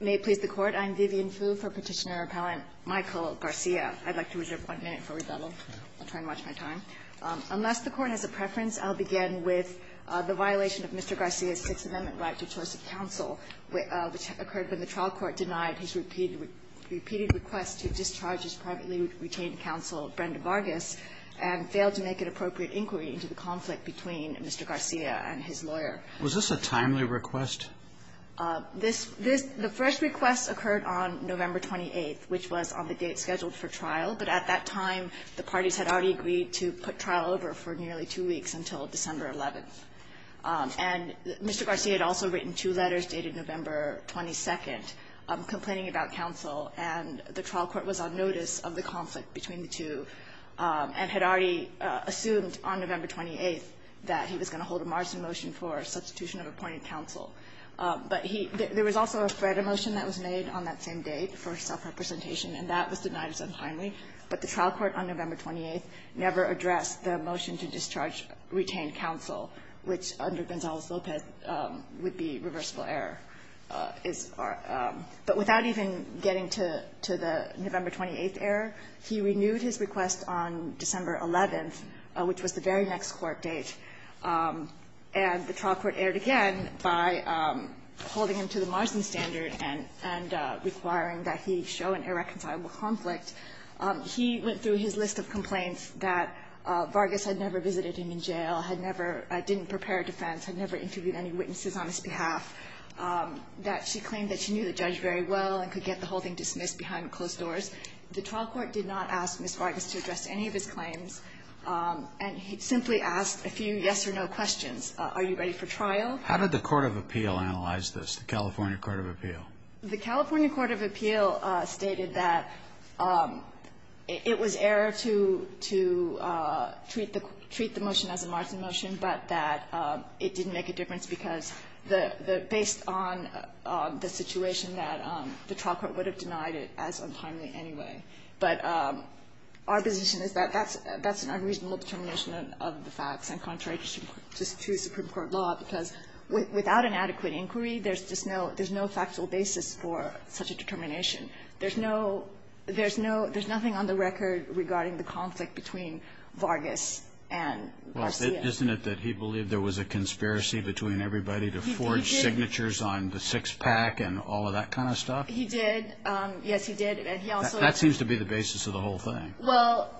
May it please the Court, I'm Vivian Fu for Petitioner-Appellant Michael Garcia. I'd like to reserve one minute for rebuttal. I'll try and watch my time. Unless the Court has a preference, I'll begin with the violation of Mr. Garcia's Sixth Amendment right to choice of counsel, which occurred when the trial court denied his repeated request to discharge his privately retained counsel, Brenda Vargas, and failed to make an appropriate inquiry into the conflict between Mr. Garcia and his lawyer. Was this a timely request? This this the first request occurred on November 28th, which was on the date scheduled for trial, but at that time, the parties had already agreed to put trial over for nearly two weeks until December 11th. And Mr. Garcia had also written two letters dated November 22nd, complaining about counsel, and the trial court was on notice of the conflict between the two and had already assumed on November 28th that he was going to hold a margin motion for substitution of appointed counsel. But he – there was also a FREDA motion that was made on that same date for self-representation, and that was denied as untimely, but the trial court on November 28th never addressed the motion to discharge retained counsel, which under Gonzales-Lopez would be reversible error, is our – but without even getting to the November 28th error, he renewed his request on December 11th, which was the very next court date, and the trial court erred again by holding him to the margin standard and requiring that he show an irreconcilable conflict. He went through his list of complaints that Vargas had never visited him in jail, had never – didn't prepare a defense, had never interviewed any witnesses on his behalf, that she claimed that she knew the judge very well and could get the whole thing dismissed behind closed doors. The trial court did not ask Ms. Vargas to address any of his claims, and he simply asked a few yes-or-no questions. Are you ready for trial? How did the court of appeal analyze this, the California court of appeal? The California court of appeal stated that it was error to – to treat the – treat the motion as a margin motion, but that it didn't make a difference because the – based on the situation that the trial court would have denied it as untimely anyway. But our position is that that's – that's an unreasonable determination of the facts, and contrary to Supreme Court law, because without an adequate inquiry, there's just no – there's no factual basis for such a determination. There's no – there's no – there's nothing on the record regarding the conflict between Vargas and Garcia. Well, isn't it that he believed there was a conspiracy between everybody to forge signatures on the six-pack and all of that kind of stuff? He did. Yes, he did. And he also – That seems to be the basis of the whole thing. Well,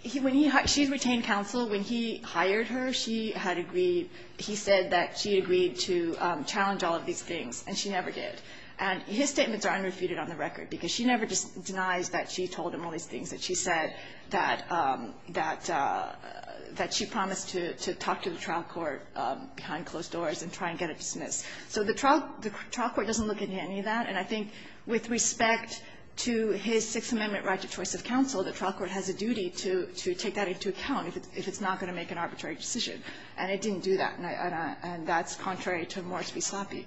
he – when he – she's retained counsel. When he hired her, she had agreed – he said that she agreed to challenge all of these things, and she never did. And his statements are unrefuted on the record, because she never denies that she told him all these things, that she said that – that she promised to talk to the trial court behind closed doors and try and get it dismissed. So the trial – the trial court doesn't look into any of that. And I think with respect to his Sixth Amendment right to choice of counsel, the trial court has a duty to take that into account if it's not going to make an arbitrary decision. And it didn't do that. And I – and that's contrary to Morris v. Sloppy.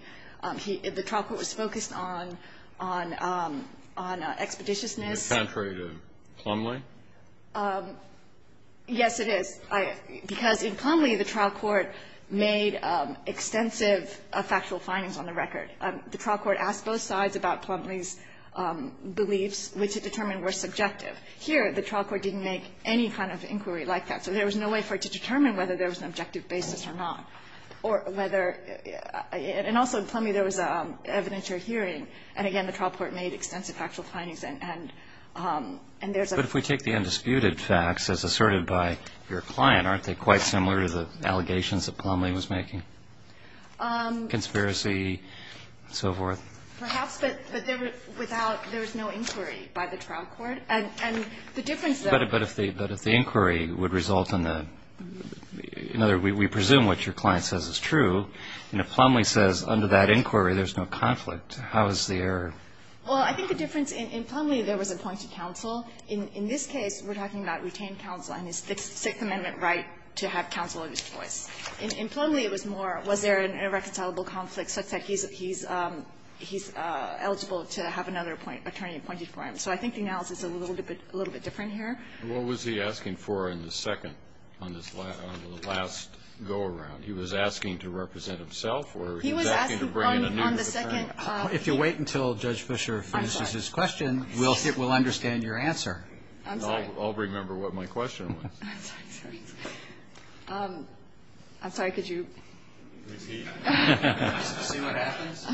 He – the trial court was focused on expeditiousness. Is it contrary to Plumlee? Yes, it is. Because in Plumlee, the trial court made extensive factual findings on the record. And the trial court asked both sides about Plumlee's beliefs, which it determined were subjective. Here, the trial court didn't make any kind of inquiry like that. So there was no way for it to determine whether there was an objective basis or not, or whether – and also in Plumlee, there was evidentiary hearing. And again, the trial court made extensive factual findings. And there's a – But if we take the undisputed facts as asserted by your client, aren't they quite similar to the allegations that Plumlee was making? Conspiracy and so forth? Perhaps, but there was – without – there was no inquiry by the trial court. And the difference, though – But if the – but if the inquiry would result in the – in other words, we presume what your client says is true. And if Plumlee says under that inquiry, there's no conflict, how is the error? Well, I think the difference – in Plumlee, there was a point to counsel. In this case, we're talking about retained counsel, and it's the Sixth Amendment right to have counsel of this choice. In Plumlee, it was more, was there an irreconcilable conflict such that he's – he's eligible to have another attorney appointed for him. So I think the analysis is a little bit – a little bit different here. And what was he asking for in the second – on the last go-around? He was asking to represent himself, or he was asking to bring in a new – He was asking on the second – If you wait until Judge Fischer finishes his question, we'll understand your answer. I'm sorry. I'll remember what my question was. I'm sorry. I'm sorry. I'm sorry. Could you repeat? See what happens?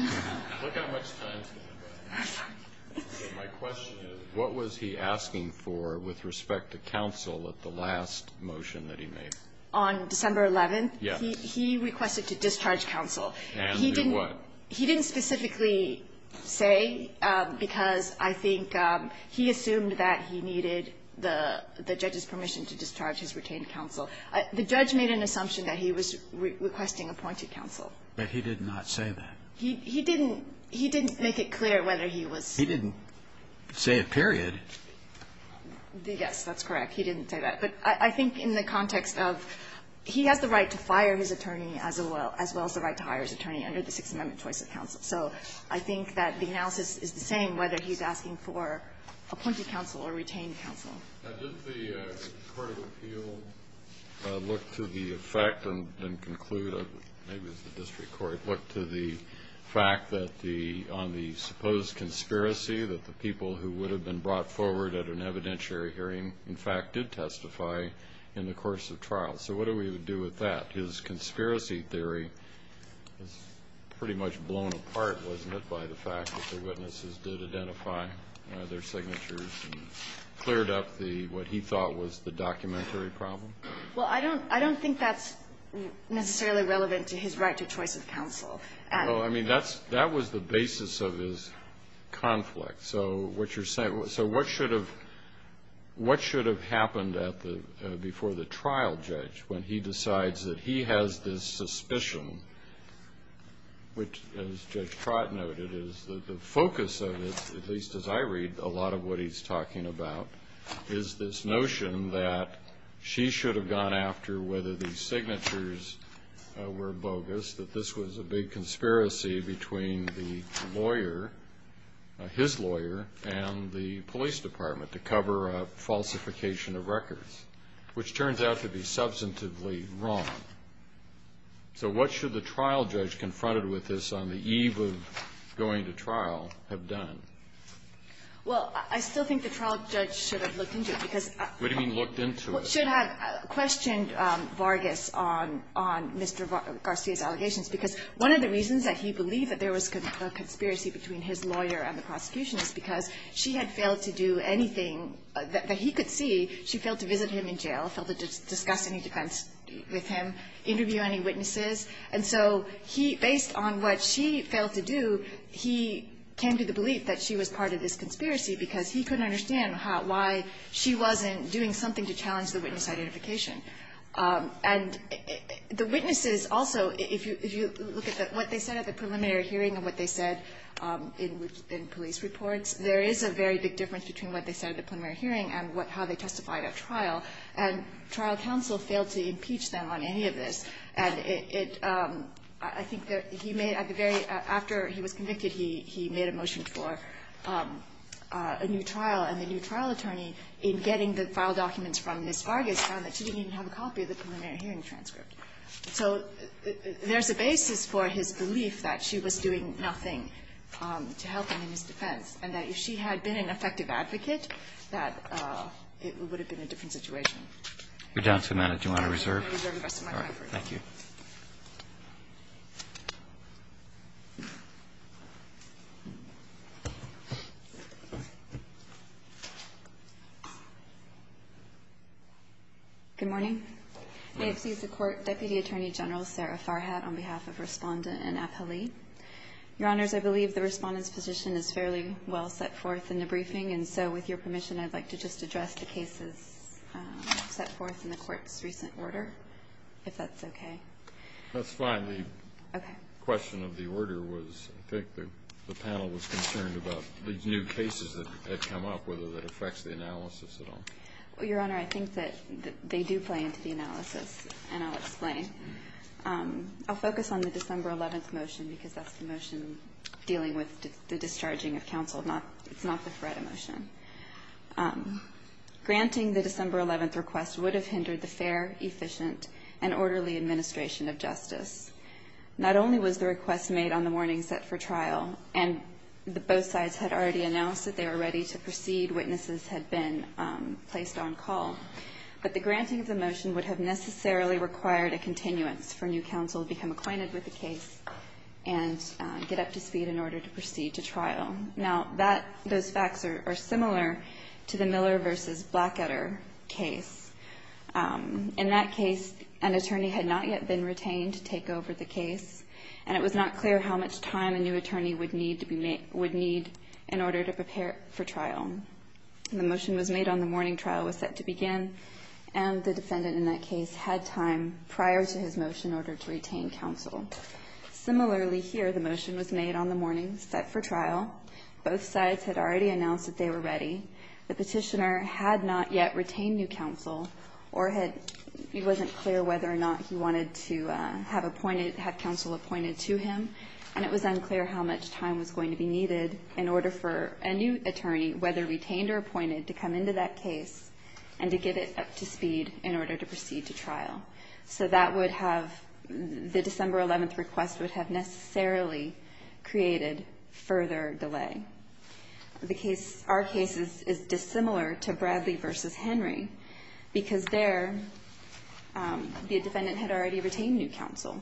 Look how much time is going by. My question is, what was he asking for with respect to counsel at the last motion that he made? On December 11th, he requested to discharge counsel. And do what? He didn't specifically say, because I think he assumed that he needed the judge's appointed counsel. The judge made an assumption that he was requesting appointed counsel. But he did not say that. He didn't – he didn't make it clear whether he was – He didn't say it, period. Yes, that's correct. He didn't say that. But I think in the context of he has the right to fire his attorney as well as the right to hire his attorney under the Sixth Amendment choice of counsel. So I think that the analysis is the same, whether he's asking for appointed counsel or retained counsel. Did the court of appeal look to the effect and conclude – maybe it was the district court – look to the fact that the – on the supposed conspiracy that the people who would have been brought forward at an evidentiary hearing, in fact, did testify in the course of trial? So what do we do with that? His conspiracy theory was pretty much blown apart, wasn't it, by the fact that the witnesses did identify their signatures and cleared up the – what he thought was the documentary problem? Well, I don't – I don't think that's necessarily relevant to his right to choice of counsel. Well, I mean, that's – that was the basis of his conflict. So what you're saying – so what should have – what should have happened at the – before the trial judge when he decides that he has this suspicion, which, as Judge Focus said, at least as I read a lot of what he's talking about, is this notion that she should have gone after whether the signatures were bogus, that this was a big conspiracy between the lawyer – his lawyer and the police department to cover a falsification of records, which turns out to be substantively wrong. So what should the trial judge confronted with this on the eve of going to trial have done? Well, I still think the trial judge should have looked into it, because – What do you mean, looked into it? Should have questioned Vargas on – on Mr. Garcia's allegations, because one of the reasons that he believed that there was a conspiracy between his lawyer and the prosecution is because she had failed to do anything that he could see. She failed to visit him in jail, failed to discuss any defense with him, interview any witnesses. And so he – based on what she failed to do, he came to the belief that she was part of this conspiracy, because he couldn't understand how – why she wasn't doing something to challenge the witness identification. And the witnesses also – if you look at what they said at the preliminary hearing and what they said in police reports, there is a very big difference between what they testified at trial and trial counsel failed to impeach them on any of this. And it – I think that he may – at the very – after he was convicted, he made a motion for a new trial, and the new trial attorney, in getting the file documents from Ms. Vargas, found that she didn't even have a copy of the preliminary hearing transcript. So there's a basis for his belief that she was doing nothing to help him in his defense and that if she had been an effective advocate, that it would have been a different situation. We're down to a minute. Do you want to reserve? I'll reserve the rest of my time for it. All right. Thank you. Good morning. May it please the Court. Deputy Attorney General Sarah Farhat on behalf of Respondent and appellee. Your Honors, I believe the Respondent's position is fairly well set forth in the briefing, and so with your permission, I'd like to just address the cases set forth in the Court's recent order, if that's okay. That's fine. The question of the order was – I think the panel was concerned about these new cases that had come up, whether that affects the analysis at all. Well, Your Honor, I think that they do play into the analysis, and I'll explain. I'll focus on the December 11th motion, because that's the motion dealing with the discharging of counsel, not – it's not the FREDA motion. Granting the December 11th request would have hindered the fair, efficient, and orderly administration of justice. Not only was the request made on the morning set for trial, and both sides had already announced that they were ready to proceed, witnesses had been placed on call, but the new counsel would become acquainted with the case and get up to speed in order to proceed to trial. Now, that – those facts are similar to the Miller v. Blacketter case. In that case, an attorney had not yet been retained to take over the case, and it was not clear how much time a new attorney would need in order to prepare for trial. The motion was made on the morning trial was set to begin, and the defendant in that case had time prior to his motion in order to retain counsel. Similarly here, the motion was made on the morning set for trial. Both sides had already announced that they were ready. The petitioner had not yet retained new counsel or had – it wasn't clear whether or not he wanted to have appointed – had counsel appointed to him, and it was unclear how much time was going to be needed in order for a new attorney, whether retained or appointed, to come into that case and to get it up to speed in order to proceed to trial. So that would have – the December 11th request would have necessarily created further delay. The case – our case is dissimilar to Bradley v. Henry because there the defendant had already retained new counsel.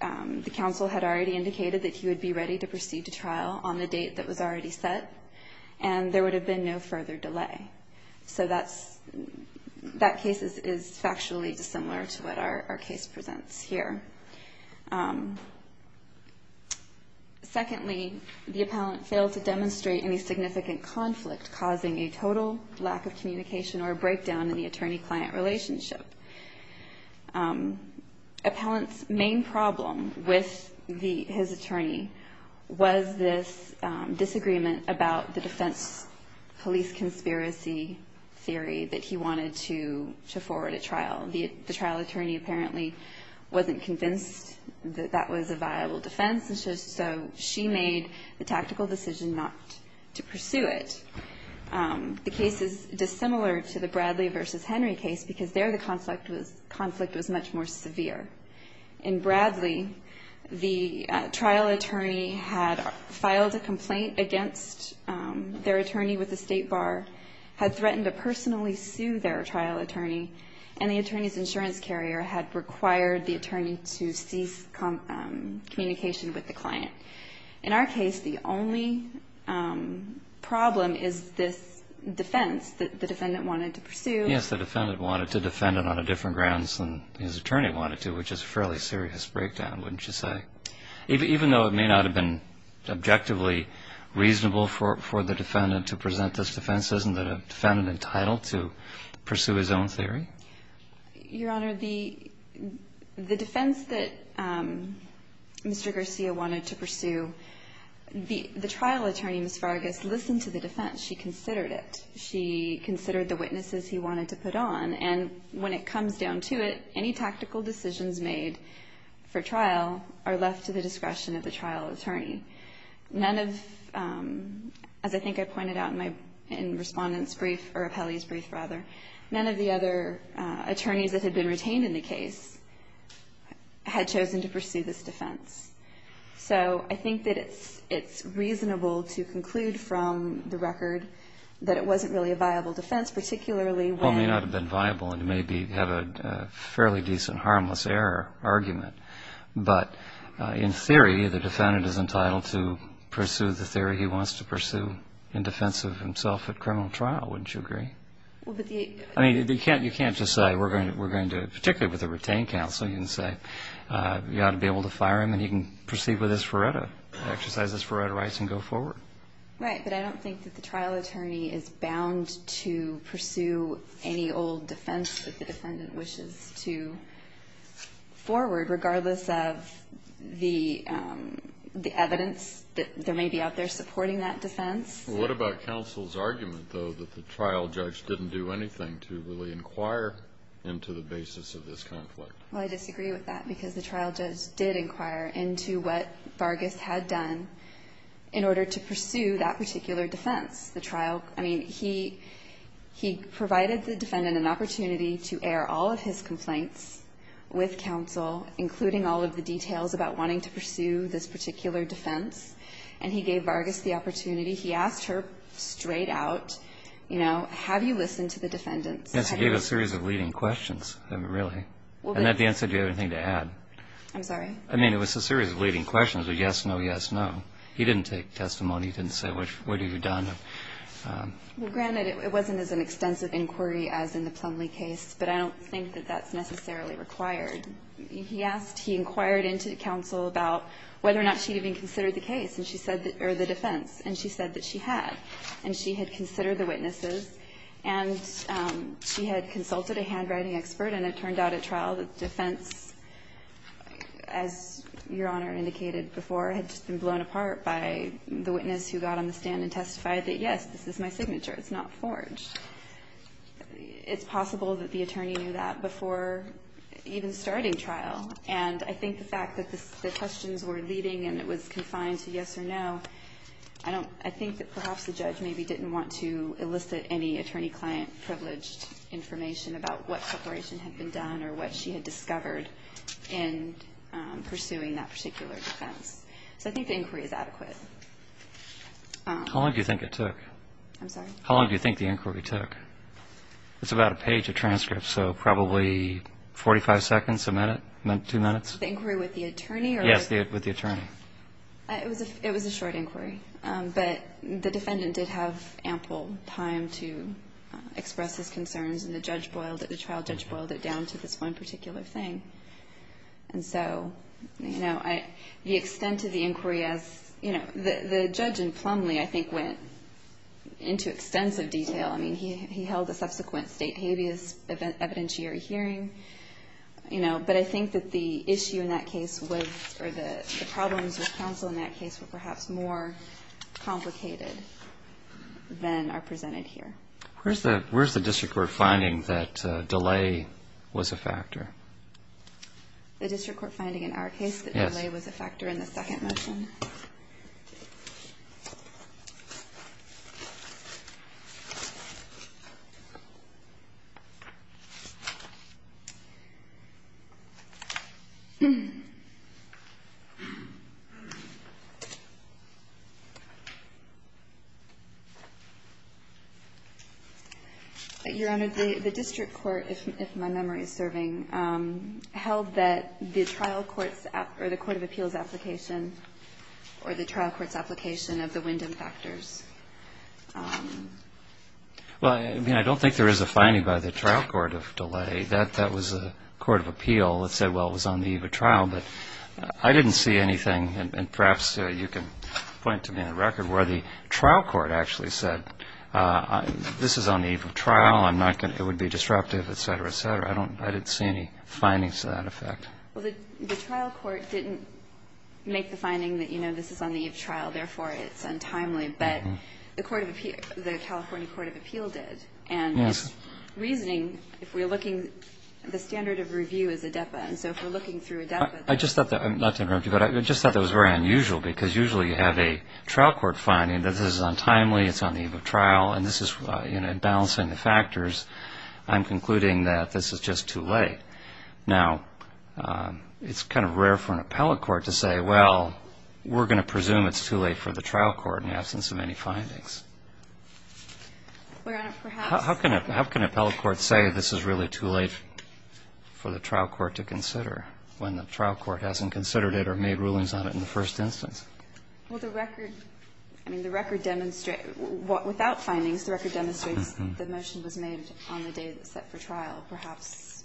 The counsel had already indicated that he would be ready to proceed to trial on the date that was already set, and there would have been no further delay. So that's – that case is factually dissimilar to what our case presents here. Secondly, the appellant failed to demonstrate any significant conflict causing a total lack of communication or a breakdown in the attorney-client relationship. Appellant's main problem with the – his attorney was this disagreement about the defense police conspiracy theory that he wanted to – to forward at trial. The trial attorney apparently wasn't convinced that that was a viable defense, and so she made the tactical decision not to pursue it. The case is dissimilar to the Bradley v. Henry case because there the conflict was – conflict was much more severe. In Bradley, the trial attorney had filed a complaint against their attorney with the State Bar, had threatened to personally sue their trial attorney, and the attorney's insurance carrier had required the attorney to cease communication with the client. In our case, the only problem is this defense that the defendant wanted to pursue. Yes, the defendant wanted to defend it on a different grounds than his attorney wanted to, which is a fairly serious breakdown, wouldn't you say? Even though it may not have been objectively reasonable for the defendant to present this defense, isn't the defendant entitled to pursue his own theory? Your Honor, the – the defense that Mr. Garcia wanted to pursue, the trial attorney, Ms. Vargas, listened to the defense. She considered it. She considered the witnesses he wanted to put on, and when it comes down to it, any tactical decisions made for trial are left to the discretion of the trial attorney. None of – as I think I pointed out in my – in Respondent's brief – or Appelli's brief, attorneys that had been retained in the case had chosen to pursue this defense. So I think that it's – it's reasonable to conclude from the record that it wasn't really a viable defense, particularly when – Well, it may not have been viable, and it may be – have a fairly decent harmless error argument, but in theory, the defendant is entitled to pursue the theory he wants to pursue in defense of himself at criminal trial, wouldn't you agree? Well, but the – I mean, you can't – you can't just say, we're going to – particularly with a retained counsel, you can say, you ought to be able to fire him, and he can proceed with his Ferretta, exercise his Ferretta rights and go forward. Right, but I don't think that the trial attorney is bound to pursue any old defense that the defendant wishes to forward, regardless of the – the evidence that there may be out there supporting that defense. What about counsel's argument, though, that the trial judge didn't do anything to really inquire into the basis of this conflict? Well, I disagree with that, because the trial judge did inquire into what Vargas had done in order to pursue that particular defense. The trial – I mean, he – he provided the defendant an opportunity to air all of his complaints with counsel, including all of the details about wanting to pursue this particular defense, and he gave Vargas the opportunity. He asked her straight out, you know, have you listened to the defendants? Yes, he gave a series of leading questions, really. And at the end, he said, do you have anything to add? I'm sorry? I mean, it was a series of leading questions of yes, no, yes, no. He didn't take testimony. He didn't say, what have you done? Well, granted, it wasn't as an extensive inquiry as in the Plumlee case, but I don't think that that's necessarily required. He asked – he inquired into counsel about whether or not she'd even considered the case, and she said that – or the defense. And she said that she had. And she had considered the witnesses, and she had consulted a handwriting expert, and it turned out at trial that the defense, as Your Honor indicated before, had just been blown apart by the witness who got on the stand and testified that, yes, this is my signature. It's not forged. It's possible that the attorney knew that before even starting trial, and I think the fact that the questions were leading and it was confined to yes or no, I don't – I think that perhaps the judge maybe didn't want to elicit any attorney-client privileged information about what separation had been done or what she had discovered in pursuing that particular defense. So I think the inquiry is adequate. How long do you think it took? I'm sorry? How long do you think the inquiry took? It's about a page of transcripts, so probably 45 seconds, a minute, two minutes? The inquiry with the attorney? Yes, with the attorney. It was a short inquiry, but the defendant did have ample time to express his concerns, and the judge boiled it – the trial judge boiled it down to this one particular thing. And so, you know, the extent of the inquiry as – you know, the judge in Plumlee, I think, went into extensive detail. I mean, he held a subsequent state habeas evidentiary hearing, you know, but I think that the issue in that case was – or the problems with counsel in that case were perhaps more complicated than are presented here. Where's the – where's the district court finding that delay was a factor? The district court finding in our case that delay was a factor in the second motion? Your Honor, the district court, if my memory is serving, held that the trial court's – or the court of appeals' application, or the trial court's application of the Wyndham factors. Well, I mean, I don't think there is a finding by the trial court of delay. I don't know if the trial court of delay was on the eve of trial, but I didn't see anything – and perhaps you can point to me on the record where the trial court actually said, this is on the eve of trial. I'm not going to – it would be disruptive, et cetera, et cetera. I don't – I didn't see any findings to that effect. Well, the trial court didn't make the finding that, you know, this is on the eve of trial, therefore it's untimely, but the court of – the California court of appeal did. And its reasoning, if we're looking – the standard of review is ADEPA. And so if we're looking through ADEPA, there's – I just thought that – not to interrupt you, but I just thought that was very unusual, because usually you have a trial court finding that this is untimely, it's on the eve of trial, and this is – you know, in balancing the factors, I'm concluding that this is just too late. Now, it's kind of rare for an appellate court to say, well, we're going to presume it's too late for the trial court in the absence of any findings. Your Honor, perhaps – How can an appellate court say this is really too late for the trial court to consider when the trial court hasn't considered it or made rulings on it in the first instance? Well, the record – I mean, the record – without findings, the record demonstrates the motion was made on the day it was set for trial. Perhaps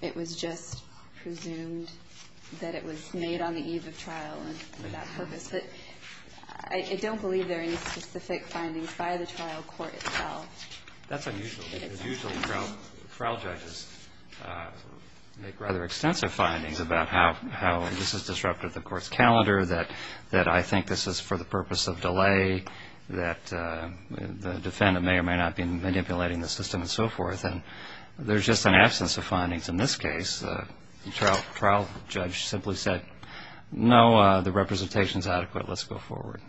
it was just presumed that it was made on the eve of trial for that purpose. I don't believe there are any specific findings by the trial court itself. That's unusual, because usually trial judges make rather extensive findings about how this has disrupted the court's calendar, that I think this is for the purpose of delay, that the defendant may or may not be manipulating the system, and so forth. And there's just an absence of findings in this case. The trial judge simply said, no, the representation's adequate. Let's go forward.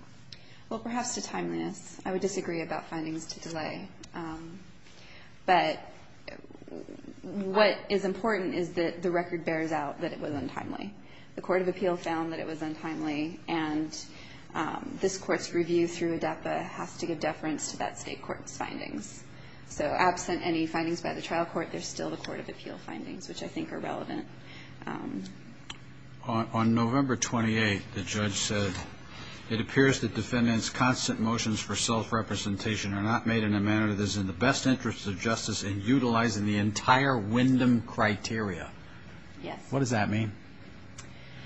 Well, perhaps to timeliness. I would disagree about findings to delay. But what is important is that the record bears out that it was untimely. The court of appeal found that it was untimely, and this Court's review through ADAPA has to give deference to that state court's findings. So absent any findings by the trial court, there's still the court of appeal findings, which I think are relevant. On November 28, the judge said, it appears that defendant's constant motions for self-representation are not made in a manner that is in the best interest of justice in utilizing the entire Wyndham criteria. Yes. What does that mean?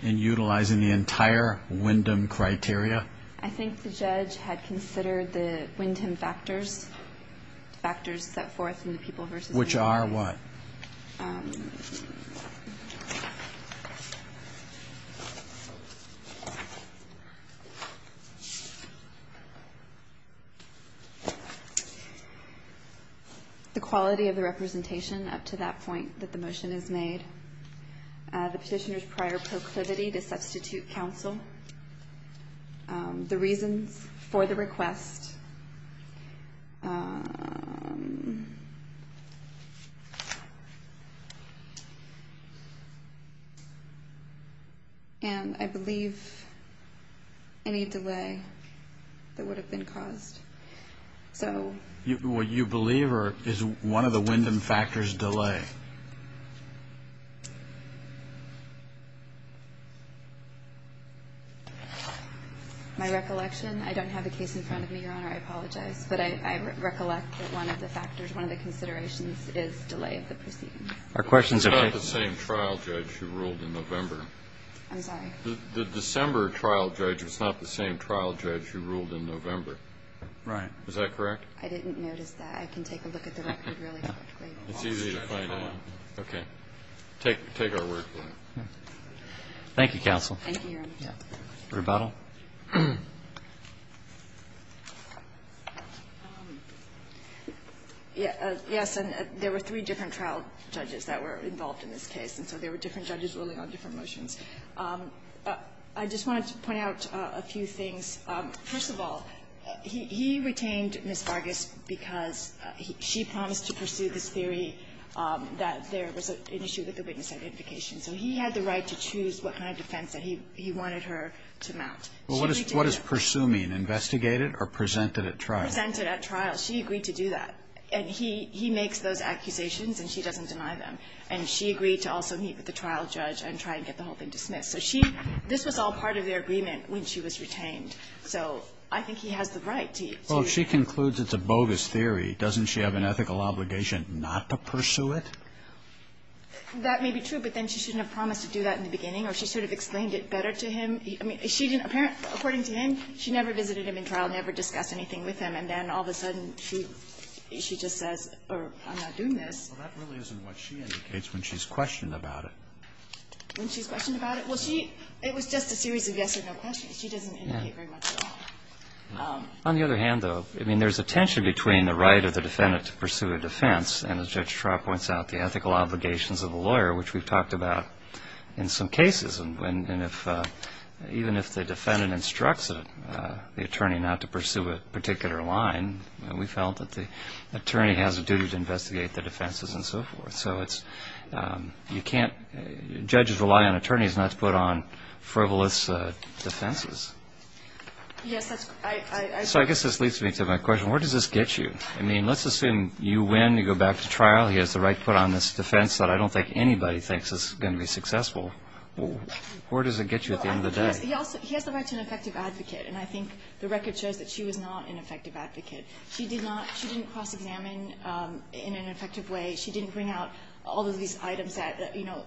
In utilizing the entire Wyndham criteria? I think the judge had considered the Wyndham factors, factors set forth in the people versus Which are what? The quality of the representation up to that point that the motion is made. The petitioner's prior proclivity to substitute counsel. The reasons for the request. And I believe any delay that would have been caused. So what you believe, or is one of the Wyndham factors delay? My recollection, I don't have a case in front of me, Your Honor. I apologize. But I recollect that one of the factors, one of the considerations is delay of the proceedings. Our question is about the same trial judge who ruled in November. I'm sorry. The December trial judge was not the same trial judge who ruled in November. Right. Is that correct? I didn't notice that. I can take a look at the record really quickly. It's easy to find out. Okay. Take our word for it. Thank you, counsel. Rebuttal. Yes. And there were three different trial judges that were involved in this case. And so there were different judges ruling on different motions. I just wanted to point out a few things. First of all, he retained Ms. Vargas because she promised to pursue this theory that there was an issue with the witness identification. So he had the right to choose what kind of defense that he wanted her to mount. What does pursue mean? Investigate it or present it at trial? Present it at trial. She agreed to do that. And he makes those accusations, and she doesn't deny them. And she agreed to also meet with the trial judge and try and get the whole thing dismissed. So she this was all part of their agreement when she was retained. So I think he has the right to. Well, if she concludes it's a bogus theory, doesn't she have an ethical obligation not to pursue it? That may be true, but then she shouldn't have promised to do that in the beginning or she sort of explained it better to him. I mean, she didn't, according to him, she never visited him in trial, never discussed anything with him. And then all of a sudden, she just says, I'm not doing this. Well, that really isn't what she indicates when she's questioned about it. When she's questioned about it? Well, she, it was just a series of yes or no questions. She doesn't indicate very much at all. On the other hand, though, I mean, there's a tension between the right of the defendant to pursue a defense and, as Judge Traut points out, the ethical obligations of the lawyer, which we've talked about in some cases. And if, even if the defendant instructs the attorney not to pursue a particular line, we felt that the attorney has a duty to investigate the defenses and so forth. So it's, you can't, judges rely on attorneys not to put on frivolous defenses. Yes, that's, I... So I guess this leads me to my question. Where does this get you? I mean, let's assume you win, you go back to trial, he has the right to put on this defense that I don't think anybody thinks is going to be successful. Where does it get you at the end of the day? He also, he has the right to an effective advocate. And I think the record shows that she was not an effective advocate. She did not, she didn't cross-examine in an effective way. She didn't bring out all of these items that, you know,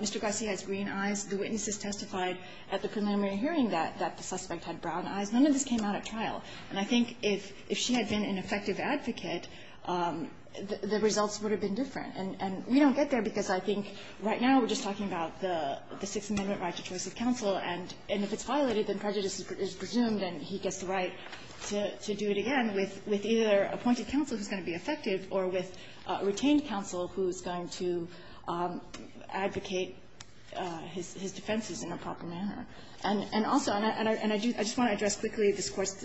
Mr. Garcia has green eyes. The witnesses testified at the preliminary hearing that the suspect had brown eyes. None of this came out at trial. And I think if she had been an effective advocate, the results would have been different. And we don't get there because I think right now we're just talking about the Sixth Amendment right to choice of counsel. And if it's violated, then prejudice is presumed and he gets the right to do it again with either appointed counsel who's going to be effective or with retained counsel who's going to advocate his defenses in a proper manner. And also, and I do, I just want to address quickly this Court's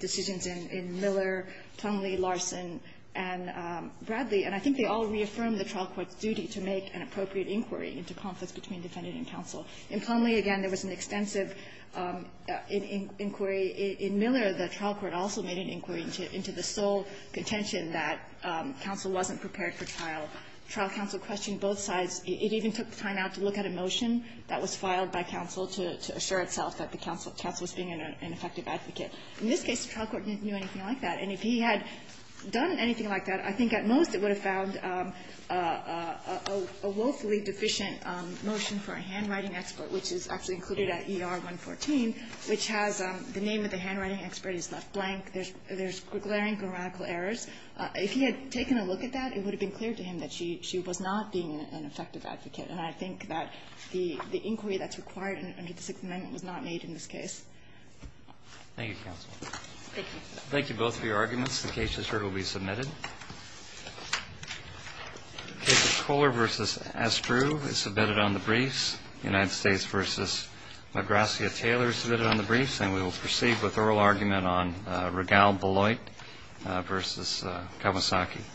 decisions in Miller, Tongley, Larson, and Bradley. And I think they all reaffirm the trial court's duty to make an appropriate inquiry into conflicts between defendant and counsel. In Plumlee, again, there was an extensive inquiry. In Miller, the trial court also made an inquiry into the sole contention that counsel wasn't prepared for trial. Trial counsel questioned both sides. It even took time out to look at a motion that was filed by counsel to assure itself that the counsel was being an effective advocate. In this case, the trial court didn't do anything like that. And if he had done anything like that, I think at most it would have found a woefully deficient motion for a handwriting expert, which is actually included at ER-114, which has the name of the handwriting expert is left blank. There's glaring grammatical errors. If he had taken a look at that, it would have been clear to him that she was not being an effective advocate. And I think that the inquiry that's required under the Sixth Amendment was not made in this case. Roberts, thank you both for your arguments. The case is heard and will be submitted. The case of Kohler v. Estrue is submitted on the briefs. The United States v. Magrassia-Taylor is submitted on the briefs. And we will proceed with oral argument on Regal-Beloit v. Kawasaki.